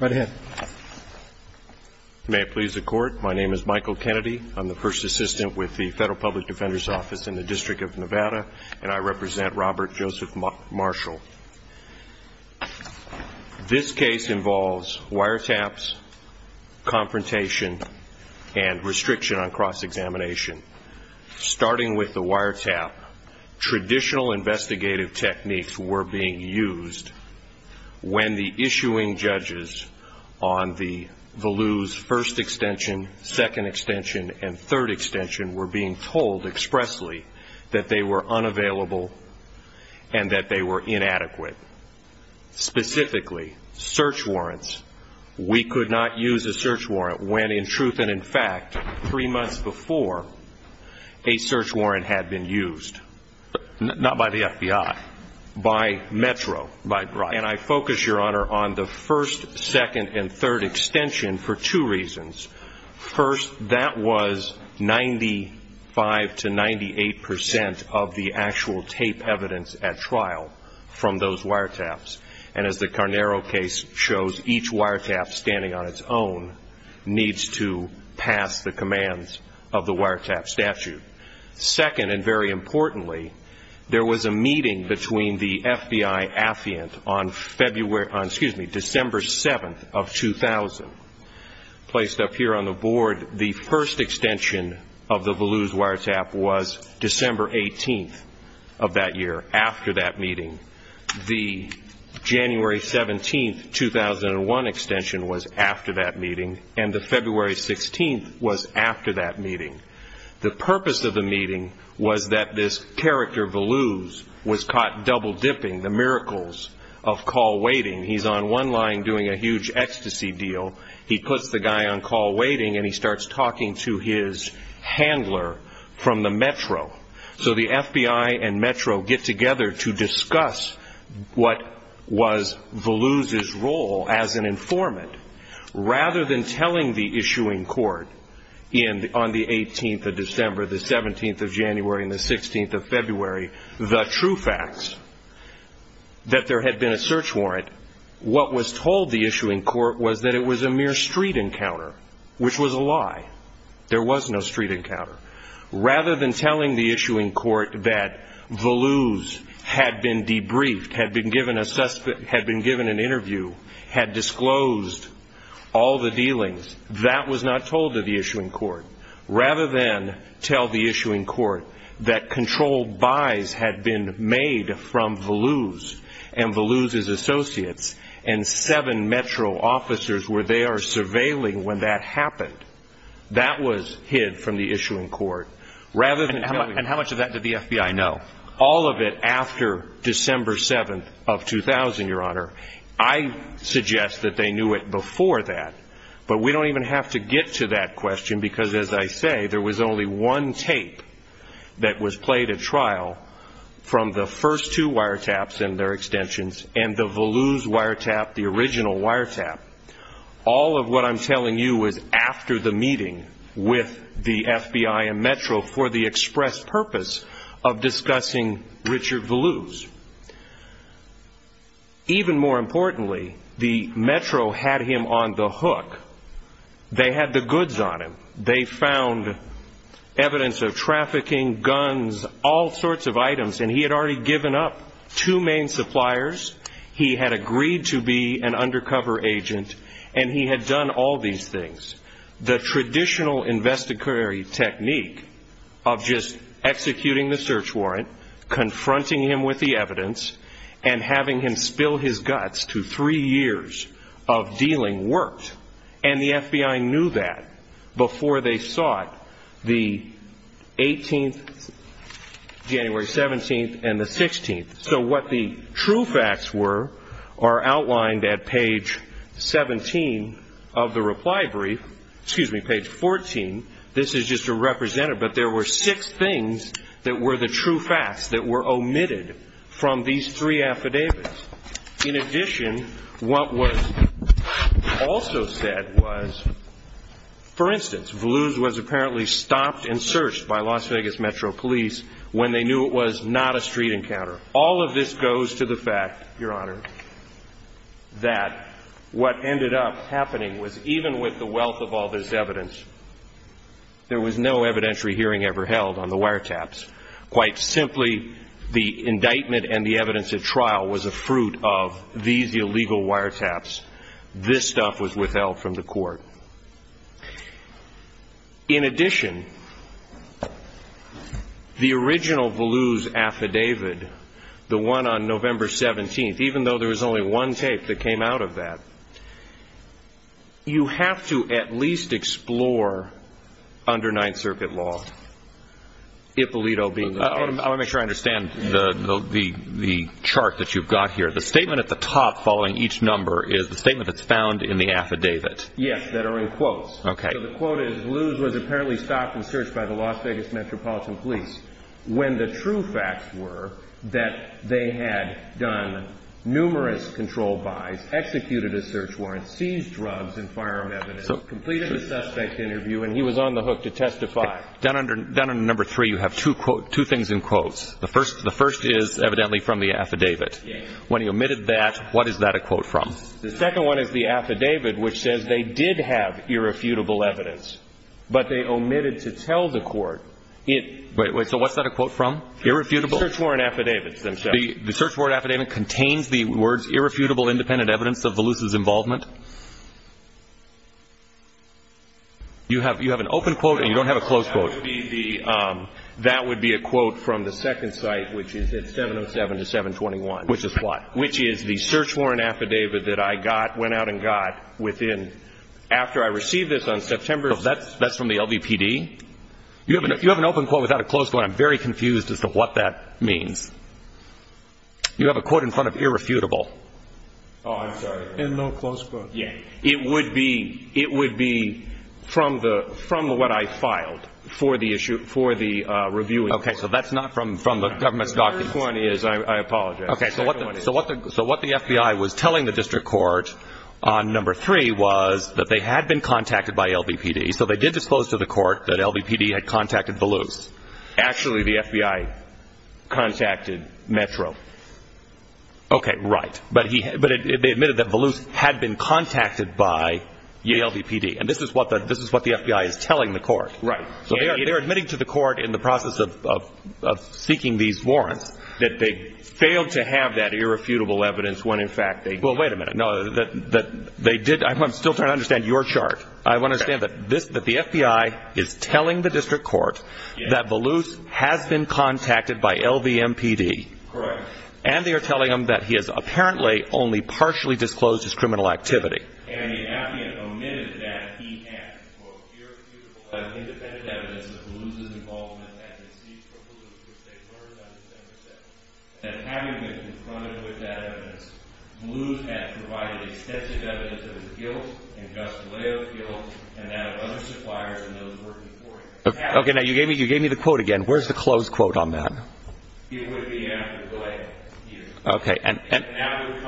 Right ahead. May it please the Court, my name is Michael Kennedy, I'm the first assistant with the Federal Public Defender's Office in the District of Nevada, and I represent Robert Joseph Marshall. This case involves wiretaps, confrontation, and restriction on cross-examination. Starting with the wiretap, traditional investigative techniques were being used when the issuing judges on the Voluse First Extension, Second Extension, and Third Extension were being told expressly that they were unavailable and that they were inadequate. Specifically, search warrants. We could not use a search warrant when, in truth and in fact, three months before a search warrant had been used. Not by the FBI. By Metro. And I focus, Your Honor, on the First, Second, and Third Extension for two reasons. First, that was 95 to 98 percent of the actual tape evidence at trial from those wiretaps. And as the Carnaro case shows, each wiretap standing on its own needs to pass the commands of the wiretap statute. Second, and very importantly, there was a meeting between the FBI-Affiant on December 7th of 2000. Placed up here on the board, the first extension of the Voluse wiretap was December 18th of that year, after that meeting. The January 17th, 2001 extension was after that meeting, and the February 16th was after that meeting. The purpose of the meeting was that this character, Voluse, was caught double-dipping the miracles of call waiting. He's on one line doing a huge ecstasy deal. He puts the guy on call waiting and he starts talking to his handler from the Metro. So the FBI and Metro get together to discuss what was Voluse's role as an informant, rather than telling the issuing court on the 18th of December, the 17th of January, and the 16th of February the true facts that there had been a search warrant, what was told the issuing court was that it was a mere street encounter, which was a lie. There was no street encounter. Rather than telling the issuing court that Voluse had been debriefed, had been given an interview, had disclosed all the dealings, that was not told to the issuing court. Rather than tell the issuing court that controlled buys had been made from Voluse and Voluse's associates and seven Metro officers where they are surveilling when that happened. That was hid from the issuing court. And how much of that did the FBI know? All of it after December 7th of 2000, Your Honor. I suggest that they knew it before that, but we don't even have to get to that question because as I say, there was only one tape that was played at trial from the first two wiretaps and their extensions and the Voluse wiretap, the original wiretap. All of what I'm telling you was after the meeting with the FBI and Metro for the express purpose of discussing Richard Voluse. Even more importantly, the Metro had him on the hook. They had the goods on him. They found evidence of trafficking, guns, all sorts of items and he had already given up two main suppliers. He had agreed to be an undercover agent and he had done all these things. The traditional investigatory technique of just executing the search warrant, confronting him with the evidence, and having him spill his guts to three years of dealing worked. And the FBI knew that before they sought the 18th, January 17th, and the 16th. So what the true facts were are outlined at page 17 of the reply brief, excuse me, page 14. This is just a representative, but there were six things that were the true facts that were omitted from these three affidavits. In addition, what was also said was, for instance, Voluse was apparently stopped and searched by Las Vegas Metro Police when they knew it was not a street encounter. All of this goes to the fact, Your Honor, that what ended up happening was even with the wealth of all this evidence, there was no evidentiary hearing ever held on the wiretaps. Quite simply, the indictment and the evidence at trial was a fruit of these illegal wiretaps. This stuff was withheld from the court. In addition, the original Voluse affidavit, the one on November 17th, even though there was only one tape that came out of that, you have to at least explore under Ninth Circuit law, Ippolito being the case. I want to make sure I understand the chart that you've got here. The statement at the top following each number is the statement that's found in the affidavit. Yes, that are in quotes. Okay. So the quote is, Voluse was apparently stopped and searched by the Las Vegas Metropolitan Police when the true facts were that they had done numerous control buys, executed a search warrant, seized drugs and firearm evidence, completed a suspect interview, and he was on the hook to testify. Down under number three, you have two things in quotes. The first is evidently from the affidavit. When he omitted that, what is that a quote from? The second one is the affidavit, which says they did have irrefutable evidence, but they omitted to tell the court it. Wait, wait. So what's that a quote from? Irrefutable? Search warrant affidavits themselves. The search warrant affidavit contains the words irrefutable independent evidence of Voluse's involvement? You have an open quote and you don't have a closed quote. That would be a quote from the second site, which is at 707 to 721. Which is what? Which is the search warrant affidavit that I got, went out and got within, after I received this on September. So that's from the LVPD? You have an open quote without a closed quote. I'm very confused as to what that means. You have a quote in front of irrefutable. Oh, I'm sorry. And no closed quote. Yeah. It would be, it would be from the, from what I filed for the issue, for the review. Okay. So that's not from, from the government's documents. The third one is, I apologize. Okay. So what the, so what the, so what the FBI was telling the district court on number three was that they had been contacted by LVPD. So they did disclose to the court that LVPD had contacted Voluse. Actually the FBI contacted Metro. Okay. Right. But he, but they admitted that Voluse had been contacted by the LVPD. And this is what the, this is what the FBI is telling the court. Right. So they are admitting to the court in the process of, of, of seeking these warrants that they failed to have that irrefutable evidence when in fact they, well, wait a minute. No, that, that they did. I'm still trying to understand your chart. I want to say that this, that the FBI is telling the district court that Voluse has been contacted by LVMPD and they are telling him that he has apparently only partially disclosed his criminal activity. Okay. Now you gave me, you gave me the quote again. Where's the close quote on that? Okay. And, and, and, and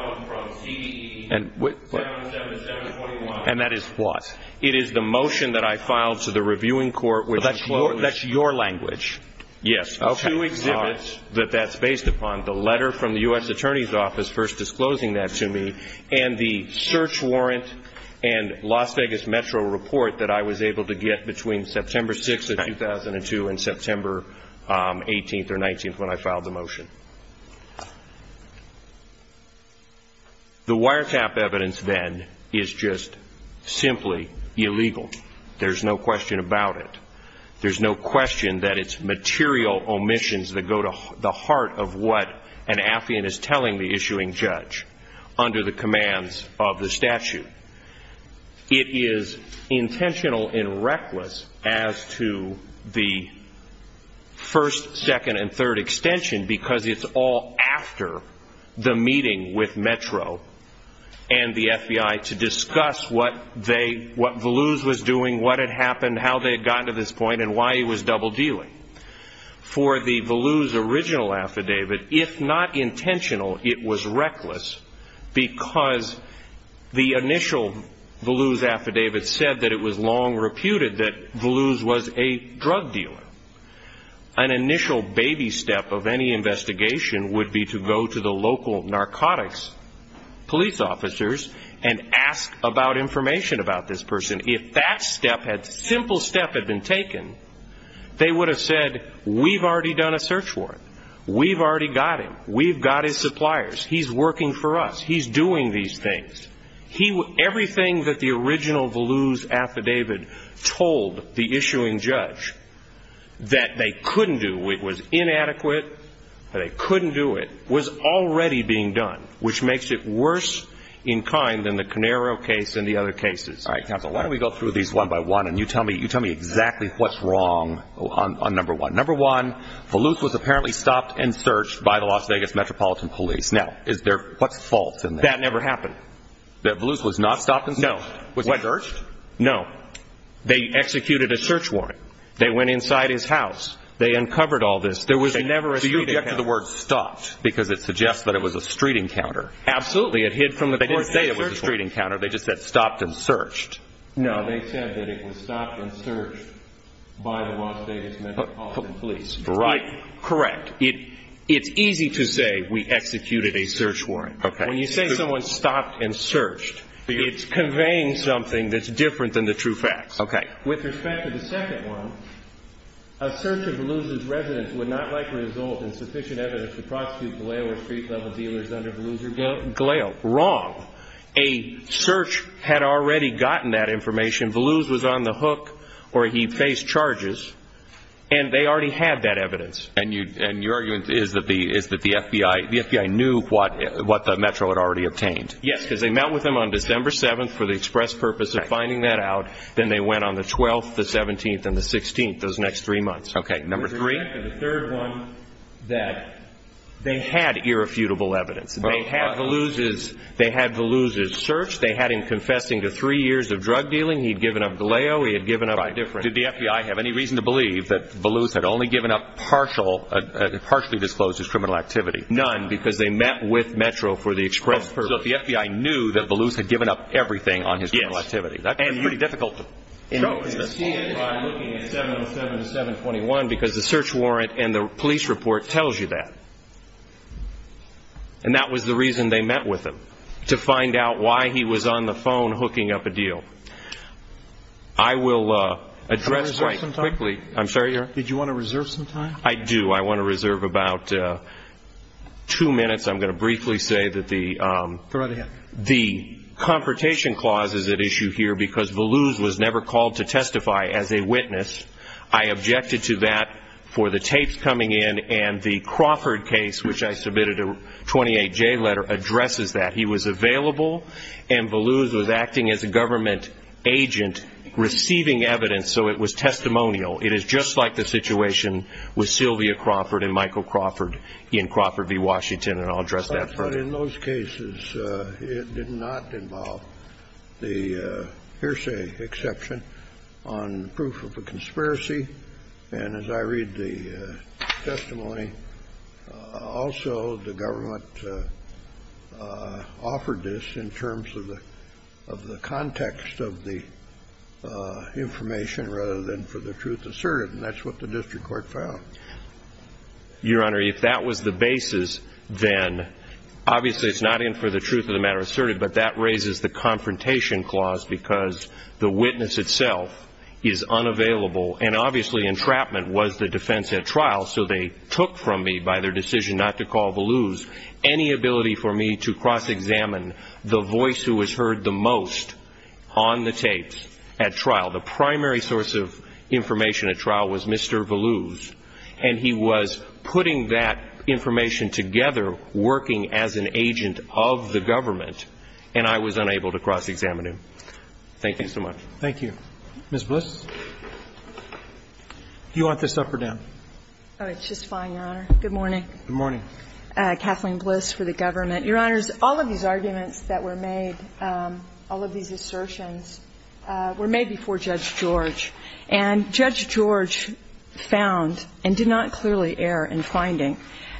that is what it is, the motion that I filed to the reviewing court with that's your, that's your language. Yes. Okay. Two exhibits that that's based upon the letter from the U S attorney's office first disclosing that to me and the search warrant and Las Vegas Metro report that I was able to get between September 6th of 2002 and September 18th or 19th when I filed the motion. The wiretap evidence then is just simply illegal. There's no question about it. There's no question that it's material omissions that go to the heart of what an affiant is telling the issuing judge under the commands of the statute. It is intentional in reckless as to the first, second, and third extension, because it's all after the meeting with Metro and the FBI to discuss what they, what blues was doing, what had happened, how they had gotten to this point and why he was double dealing for the blues original affidavit. But if not intentional, it was reckless because the initial blues affidavit said that it was long reputed that blues was a drug dealer. An initial baby step of any investigation would be to go to the local narcotics police officers and ask about information about this person. If that step had simple step had been taken, they would have said, we've already done a got him. We've got his suppliers. He's working for us. He's doing these things. He everything that the original blues affidavit told the issuing judge that they couldn't do. It was inadequate. They couldn't do. It was already being done, which makes it worse in kind than the Canero case and the other cases. Why don't we go through these one by one and you tell me, you tell me exactly what's wrong on number one. Number one, the loose was apparently stopped and searched by the Las Vegas Metropolitan Police. Now, is there? What's the fault in that? Never happened. That blues was not stopping. No. What? No. They executed a search warrant. They went inside his house. They uncovered all this. There was a never a year to get to the word stopped because it suggests that it was a street encounter. Absolutely. It hid from that. They didn't say it was a street encounter. They just said stopped and searched. No, they said that it was stopped and searched by the Las Vegas Metropolitan Police. Right. Correct. It's easy to say we executed a search warrant. When you say someone stopped and searched, it's conveying something that's different than the true facts. Okay. With respect to the second one, a search of the loser's residence would not likely result in sufficient evidence to prosecute Galeo or street level dealers under the loser Galeo. Wrong. A search had already gotten that information. Blues was on the hook or he faced charges and they already had that evidence. And you and your argument is that the is that the FBI, the FBI knew what what the Metro had already obtained. Yes, because they met with him on December 7th for the express purpose of finding that out. Then they went on the 12th, the 17th and the 16th. Those next three months. Okay. Number three, the third one that they had irrefutable evidence. They have the losers. They had the losers search. They had him confessing to three years of drug dealing. He'd given up Galeo. He had given up a different. Did the FBI have any reason to believe that blues had only given up partial, partially disclosed his criminal activity? None. Because they met with Metro for the express purpose of the FBI knew that blues had given up everything on his activity. That is pretty difficult. And you know, I'm looking at 707 721 because the search warrant and the police report tells you that. And that was the reason they met with him to find out why he was on the phone, hooking up a deal. I will address right quickly. I'm sorry. Did you want to reserve some time? I do. I want to reserve about two minutes. I'm going to briefly say that the, um, the confrontation clauses at issue here because the lose was never called to testify as a witness. I objected to that for the tapes coming in and the Crawford case, which I submitted a 28 J letter addresses that he was available and blues was acting as a government agent receiving evidence. So it was testimonial. It is just like the situation with Sylvia Crawford and Michael Crawford in Crawford V Washington. And I'll address that. But in those cases, uh, it did not involve the, uh, hearsay exception on proof of a conspiracy. And as I read the testimony, uh, also the government, uh, uh, offered this in terms of the, of the context of the, uh, information rather than for the truth asserted. And that's what the district court found. Your Honor, if that was the basis, then obviously it's not in for the truth of the matter asserted, but that raises the confrontation clause because the witness itself is unavailable. And obviously entrapment was the defense at trial. So they took from me by their decision not to call the lose any ability for me to cross examine the voice who was heard the most on the tapes at trial. The primary source of information at trial was Mr. Voluse and he was putting that information together working as an agent of the government and I was unable to cross examine him. Thank you so much. Thank you. Ms. Bliss, do you want this up or down? Oh, it's just fine, Your Honor. Good morning. Good morning. Uh, Kathleen Bliss for the government. Your Honors, all of these arguments that were made, um, all of these assertions, uh, were made before Judge George and Judge George found and did not clearly err in finding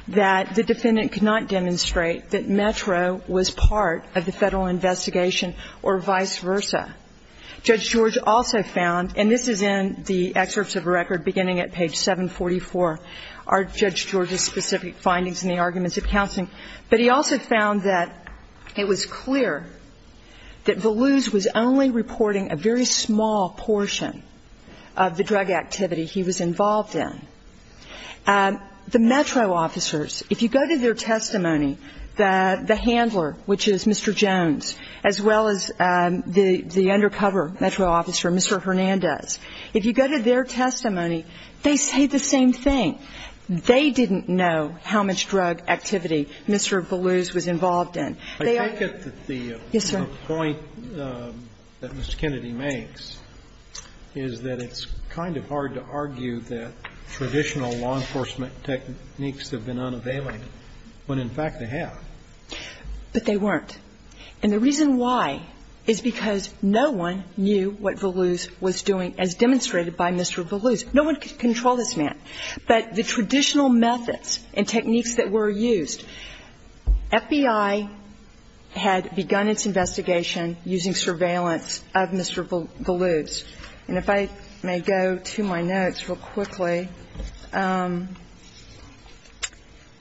that the defendant could not demonstrate that Metro was part of the federal investigation or vice versa. Judge George also found, and this is in the excerpts of a record beginning at page 744, are Judge George's specific findings in the arguments of counseling, but he also found that it was clear that Voluse was only reporting a very small portion of the drug activity he was involved in. The Metro officers, if you go to their testimony, the handler, which is Mr. Jones, as well as the undercover Metro officer, Mr. Hernandez, if you go to their testimony, they say the same thing. They didn't know how much drug activity Mr. Voluse was involved in. They are – I take it that the – Yes, sir. The point that Mr. Kennedy makes is that it's kind of hard to argue that traditional law enforcement techniques have been unavailable, when in fact they have. But they weren't. And the reason why is because no one knew what Voluse was doing as demonstrated by Mr. Voluse. No one could control this man. But the traditional methods and techniques that were used, FBI had begun its investigation using surveillance of Mr. Voluse. And if I may go to my notes real quickly,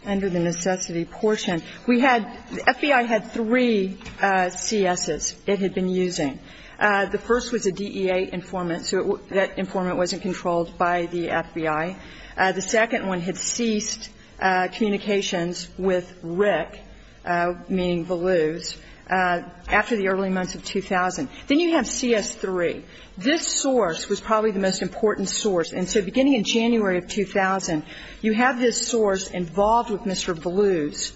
under the necessity portion, we had – the FBI had three C.S.s. it had been using. The first was a DEA informant, so that informant wasn't controlled by the FBI. The second one had ceased communications with Rick, meaning Voluse, after the early months of 2000. Then you have C.S. 3. This source was probably the most important source. And so beginning in January of 2000, you have this source involved with Mr. Voluse.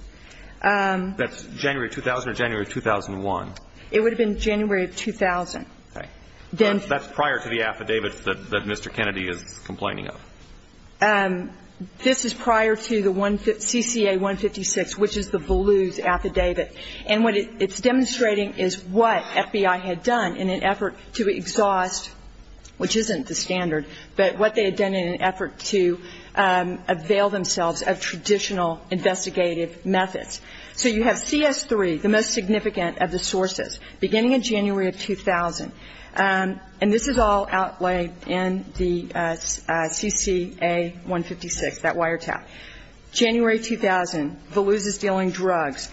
That's January of 2000 or January of 2001? It would have been January of 2000. Right. That's prior to the affidavits that Mr. Kennedy is complaining of. This is prior to the C.C.A. 156, which is the Voluse affidavit. And what it's demonstrating is what FBI had done in an effort to exhaust, which isn't the standard, but what they had done in an effort to avail themselves of traditional investigative methods. So you have C.S. 3, the most significant of the sources, beginning in January of 2000. And this is all outlaid in the C.C.A. 156, that wiretap. January 2000, Voluse is dealing drugs.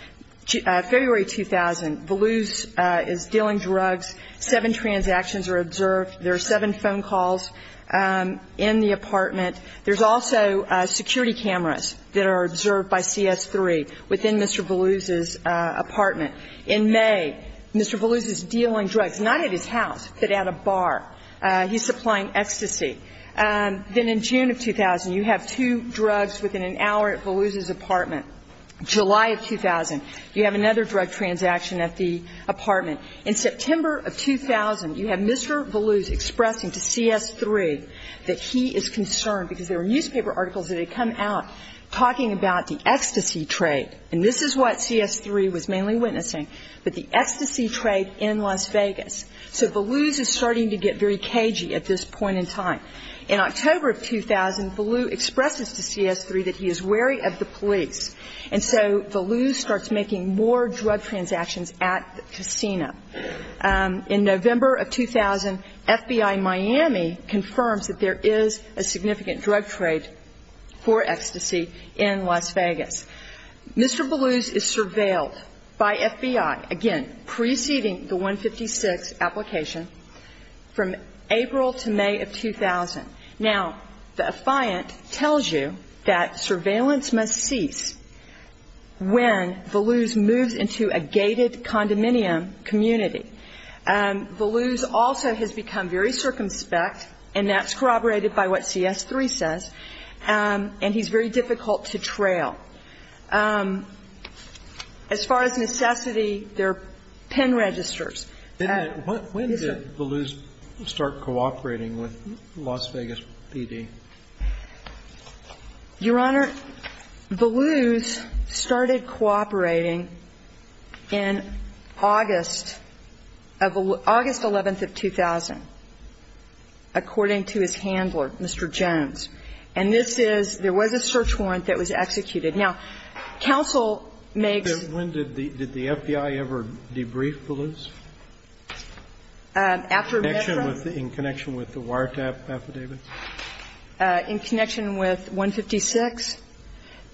February 2000, Voluse is dealing drugs. Seven transactions are observed. There are seven phone calls in the apartment. There's also security cameras that are observed by C.S. 3 within Mr. Voluse's apartment. In May, Mr. Voluse is dealing drugs, not at his house, but at a bar. He's supplying ecstasy. Then in June of 2000, you have two drugs within an hour at Voluse's apartment. July of 2000, you have another drug transaction at the apartment. In September of 2000, you have Mr. Voluse expressing to C.S. 3 that he is concerned, because there were newspaper articles that had come out talking about the ecstasy trade. And this is what C.S. 3 was mainly witnessing, but the ecstasy trade in Las Vegas. So Voluse is starting to get very cagey at this point in time. In October of 2000, Voluse expresses to C.S. 3 that he is wary of the police. And so Voluse starts making more drug transactions at the casino. In November of 2000, FBI Miami confirms that there is a significant drug trade for ecstasy in Las Vegas. Mr. Voluse is surveilled by FBI, again, preceding the 156 application, from April to May of 2000. Now, the affiant tells you that surveillance must cease when Voluse moves into a gated condominium community. Voluse also has become very circumspect, and that's corroborated by what C.S. 3 says, and he's very difficult to trail. As far as necessity, there are pen registers. When did Voluse start cooperating with Las Vegas PD? Your Honor, Voluse started cooperating in August of the 11th of 2000, according to his handler, Mr. Jones. And this is – there was a search warrant that was executed. Now, counsel makes – Then when did the FBI ever debrief Voluse? After Metro? In connection with the wiretap affidavit? In connection with 156,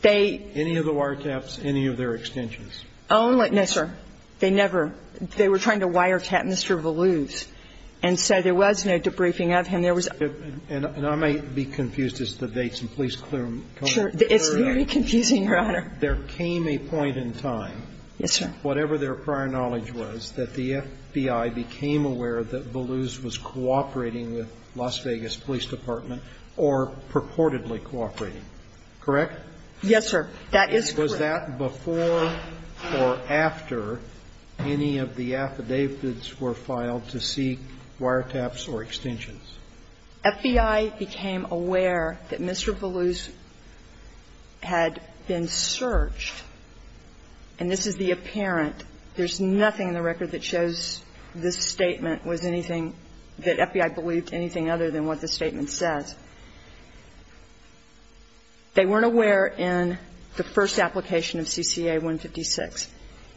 they – Any of the wiretaps, any of their extensions? Only – no, sir. They never – they were trying to wiretap Mr. Voluse. And so there was no debriefing of him. And there was – And I may be confused as to the dates, and please clear them. Sure. It's very confusing, Your Honor. There came a point in time, whatever their prior knowledge was, that the FBI became aware that Voluse was cooperating with Las Vegas Police Department or purportedly cooperating, correct? Yes, sir. That is correct. And was that before or after any of the affidavits were filed to seek wiretaps or extensions? FBI became aware that Mr. Voluse had been searched. And this is the apparent. There's nothing in the record that shows this statement was anything – that FBI believed anything other than what the statement says. They weren't aware in the first application of CCA 156.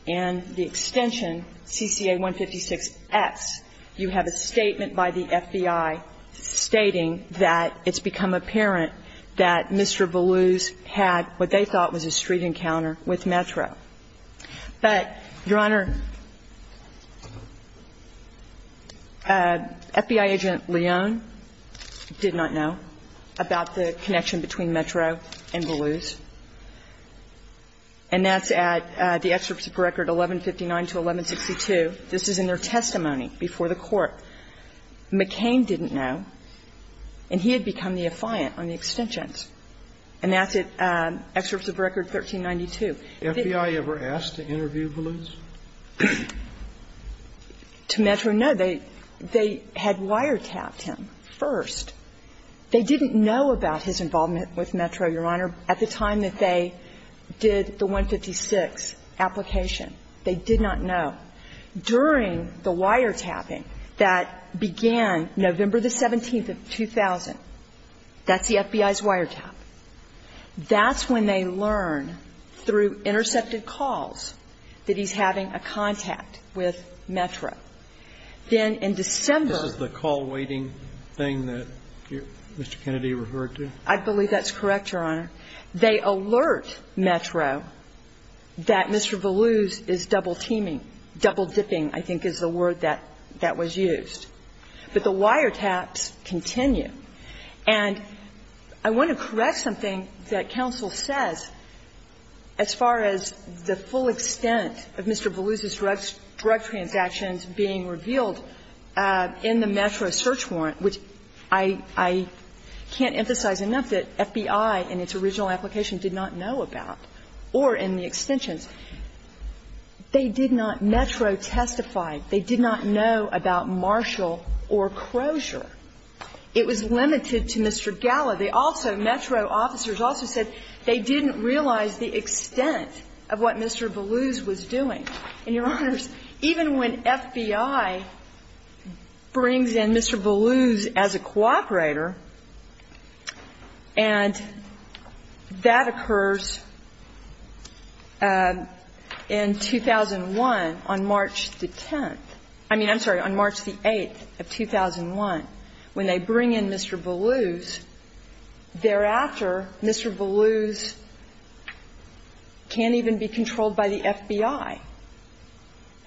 And the extension, CCA 156-S, you have a statement by the FBI stating that it's become apparent that Mr. Voluse had what they thought was a street encounter with Metro. But, Your Honor, FBI agent Leon did not know about the connection between Metro and Voluse. And that's at the excerpts of record 1159 to 1162. This is in their testimony before the Court. McCain didn't know, and he had become the affiant on the extensions. And that's at excerpts of record 1392. FBI ever asked to interview Voluse? To Metro, no. They had wiretapped him first. They didn't know about his involvement with Metro, Your Honor. At the time that they did the 156 application, they did not know. During the wiretapping that began November the 17th of 2000, that's the FBI's wiretap. That's when they learn through intercepted calls that he's having a contact with Metro. Then in December – This is the call waiting thing that Mr. Kennedy referred to? I believe that's correct, Your Honor. They alert Metro that Mr. Voluse is double-teaming, double-dipping, I think is the word that was used. But the wiretaps continue. And I want to correct something that counsel says as far as the full extent of Mr. Voluse's drug transactions being revealed in the Metro search warrant, which I can't emphasize enough that FBI in its original application did not know about, or in the extensions. They did not Metro testify. They did not know about Marshall or Crozier. It was limited to Mr. Galla. They also, Metro officers also said they didn't realize the extent of what Mr. Voluse was doing. And, Your Honor, even when FBI brings in Mr. Voluse as a cooperator, and that occurs in 2001 on March the 10th, I mean, I'm sorry, on March the 8th of 2001, when they bring in Mr. Voluse, thereafter Mr. Voluse can't even be controlled by the FBI.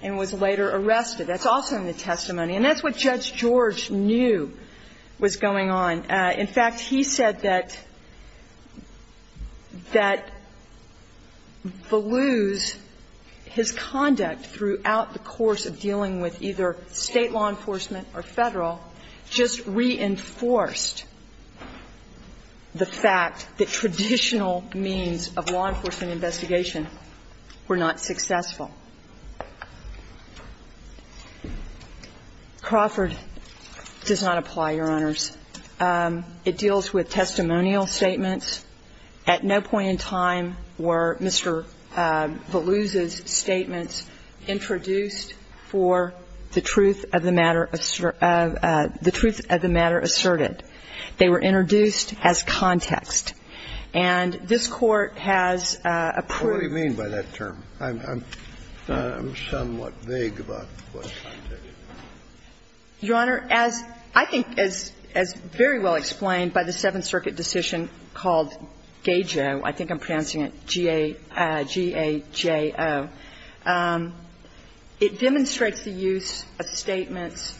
And was later arrested. That's also in the testimony. And that's what Judge George knew was going on. In fact, he said that Voluse, his conduct throughout the course of dealing with either State law enforcement or Federal, just reinforced the fact that traditional means of law enforcement investigation were not successful. Crawford does not apply, Your Honors. It deals with testimonial statements. At no point in time were Mr. Voluse's statements introduced for the truth of the matter asserted. They were introduced as context. And this Court has approved. Scalia. What do you mean by that term? I'm somewhat vague about what context. Crawford. Your Honor, as I think is very well explained by the Seventh Circuit decision called GAJO, I think I'm pronouncing it G-A-J-O, it demonstrates the use of statements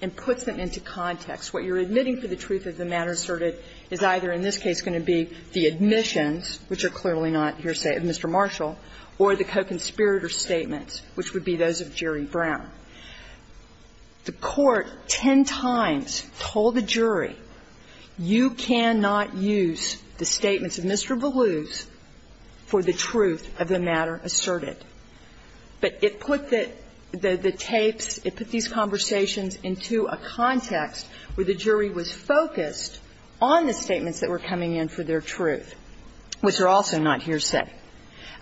and puts them into context. What you're admitting for the truth of the matter asserted is either in this case going to be the admissions, which are clearly not hearsay of Mr. Marshall, or the co-conspirator statements, which would be those of Jerry Brown. The Court ten times told the jury, you cannot use the statements of Mr. Voluse for the truth of the matter asserted. But it put the tapes, it put these conversations into a context where the jury was focused on the statements that were coming in for their truth, which are also not hearsay.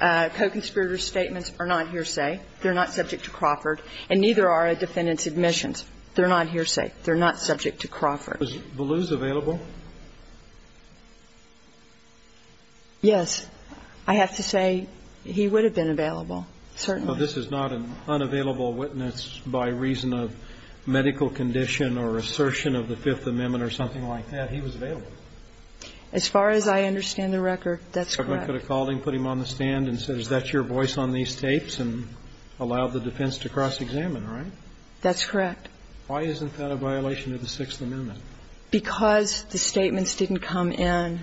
Co-conspirator statements are not hearsay. They're not subject to Crawford. And neither are a defendant's admissions. They're not hearsay. They're not subject to Crawford. Was Voluse available? Yes. I have to say he would have been available, certainly. But this is not an unavailable witness by reason of medical condition or assertion of the Fifth Amendment or something like that. He was available. As far as I understand the record, that's correct. The government could have called him, put him on the stand and said, is that your voice on these tapes, and allowed the defense to cross-examine, right? That's correct. Why isn't that a violation of the Sixth Amendment? Because the statements didn't come in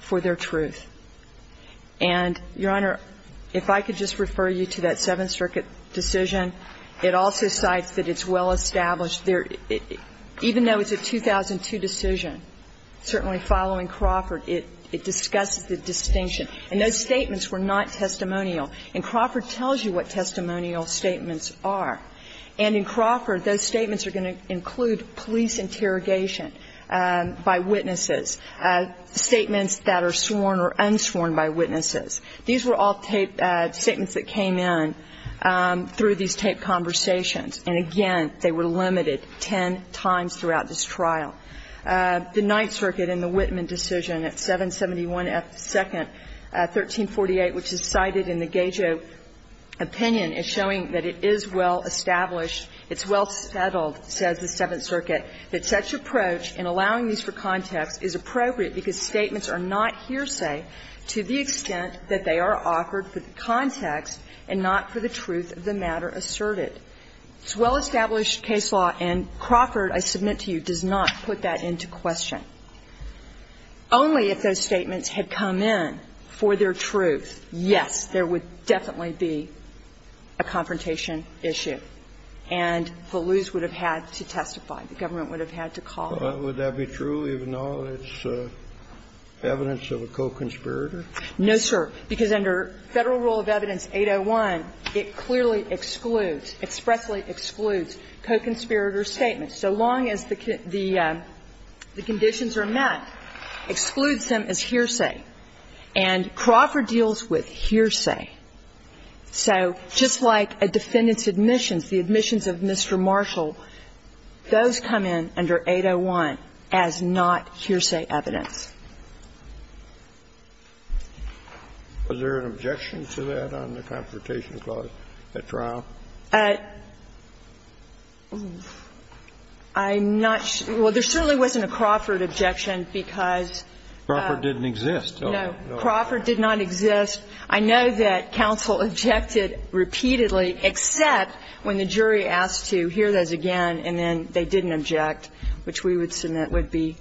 for their truth. And, Your Honor, if I could just refer you to that Seventh Circuit decision. It also cites that it's well-established. Even though it's a 2002 decision, certainly following Crawford, it discusses the distinction. And those statements were not testimonial. And Crawford tells you what testimonial statements are. And in Crawford, those statements are going to include police interrogation by witnesses, statements that are sworn or unsworn by witnesses. These were all taped statements that came in through these taped conversations. And, again, they were limited ten times throughout this trial. The Ninth Circuit in the Whitman decision at 771 F. 2nd, 1348, which is cited in the Well-established case law and Crawford, I submit to you, does not put that into question. Only if those statements had come in for their truth, yes, there would definitely be a confrontation issue. And the laws would have had to testify. The government would have had to call. Well, would that be true even though it's evidence of a co-conspirator? No, sir. Because under Federal Rule of Evidence 801, it clearly excludes, expressly excludes co-conspirator statements. So long as the conditions are met, excludes them as hearsay. And Crawford deals with hearsay. So just like a defendant's admissions, the admissions of Mr. Marshall, those come in under 801 as not hearsay evidence. Was there an objection to that on the confrontation clause at trial? I'm not sure. Well, there certainly wasn't a Crawford objection, because no. Crawford didn't exist. No. Crawford did not exist. I know that counsel objected repeatedly, except when the jury asked to hear those again, and then they didn't object, which we would submit would be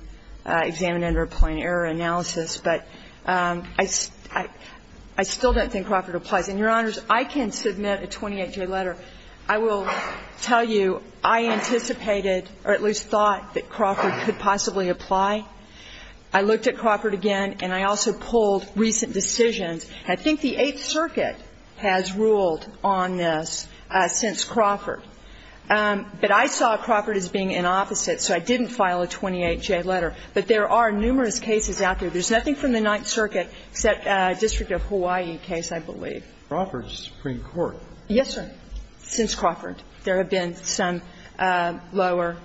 examined under a plain error analysis. But I still don't think Crawford applies. And, Your Honors, I can submit a 28-day letter. I will tell you I anticipated or at least thought that Crawford could possibly apply. I looked at Crawford again, and I also pulled recent decisions. I think the Eighth Circuit has ruled on this since Crawford. But I saw Crawford as being an opposite, so I didn't file a 28-day letter. But there are numerous cases out there. There's nothing from the Ninth Circuit except a District of Hawaii case, I believe. Crawford's Supreme Court. Yes, sir, since Crawford. There have been some lower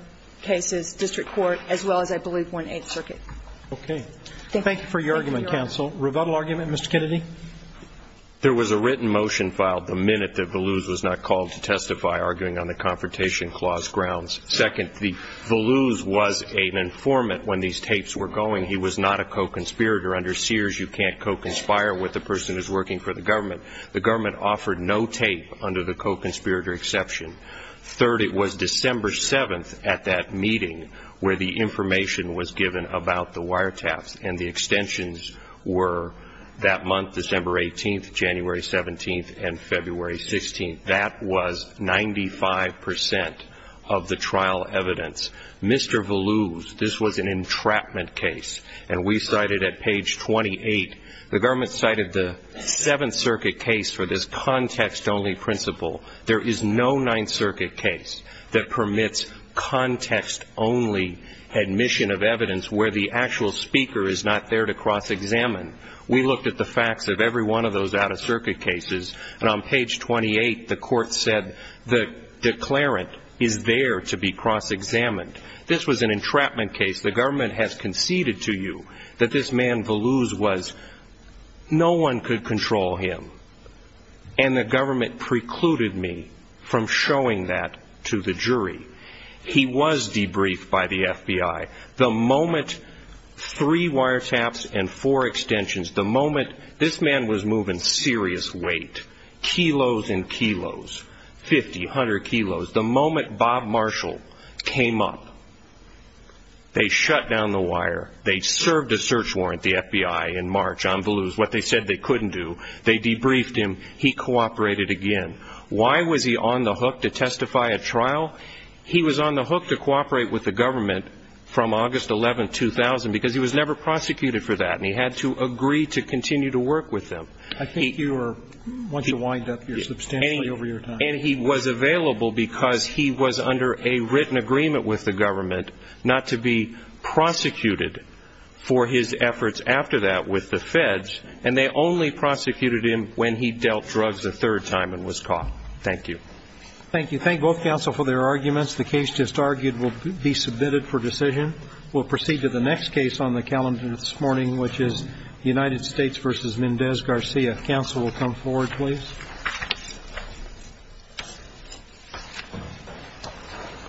cases, District Court, as well as, I believe, 1-8th Circuit. Okay. Thank you for your argument, counsel. Thank you, Your Honor. Rebuttal argument, Mr. Kennedy? There was a written motion filed the minute that Voluse was not called to testify, arguing on the Confrontation Clause grounds. Second, Voluse was an informant when these tapes were going. He was not a co-conspirator. Second, the government offered no tape under the co-conspirator exception. Third, it was December 7th at that meeting where the information was given about the wiretaps, and the extensions were that month, December 18th, January 17th, and February 16th. That was 95 percent of the trial evidence. Mr. Voluse, this was an entrapment case, and we cited at page 28. The government cited the Seventh Circuit case for this context-only principle. There is no Ninth Circuit case that permits context-only admission of evidence where the actual speaker is not there to cross-examine. We looked at the facts of every one of those out-of-circuit cases, and on page 28, the court said the declarant is there to be cross-examined. This was an entrapment case. The government has conceded to you that this man Voluse was, no one could control him, and the government precluded me from showing that to the jury. He was debriefed by the FBI. The moment three wiretaps and four extensions, the moment this man was moving serious weight, kilos and kilos, 50, 100 kilos, the moment Bob Marshall came up, they shut down the wire, they served a search warrant, the FBI, in March on Voluse, what they said they couldn't do, they debriefed him, he cooperated again. Why was he on the hook to testify at trial? He was on the hook to cooperate with the government from August 11, 2000, because he was never prosecuted for that, and he had to agree to continue to work with them. I think you are wanting to wind up here substantially over your time. And he was available because he was under a written agreement with the government not to be prosecuted for his efforts after that with the feds, and they only prosecuted him when he dealt drugs a third time and was caught. Thank you. Thank you. Thank both counsel for their arguments. The case just argued will be submitted for decision. We'll proceed to the next case on the calendar this morning, which is United States v. Mendez-Garcia. Counsel will come forward, please.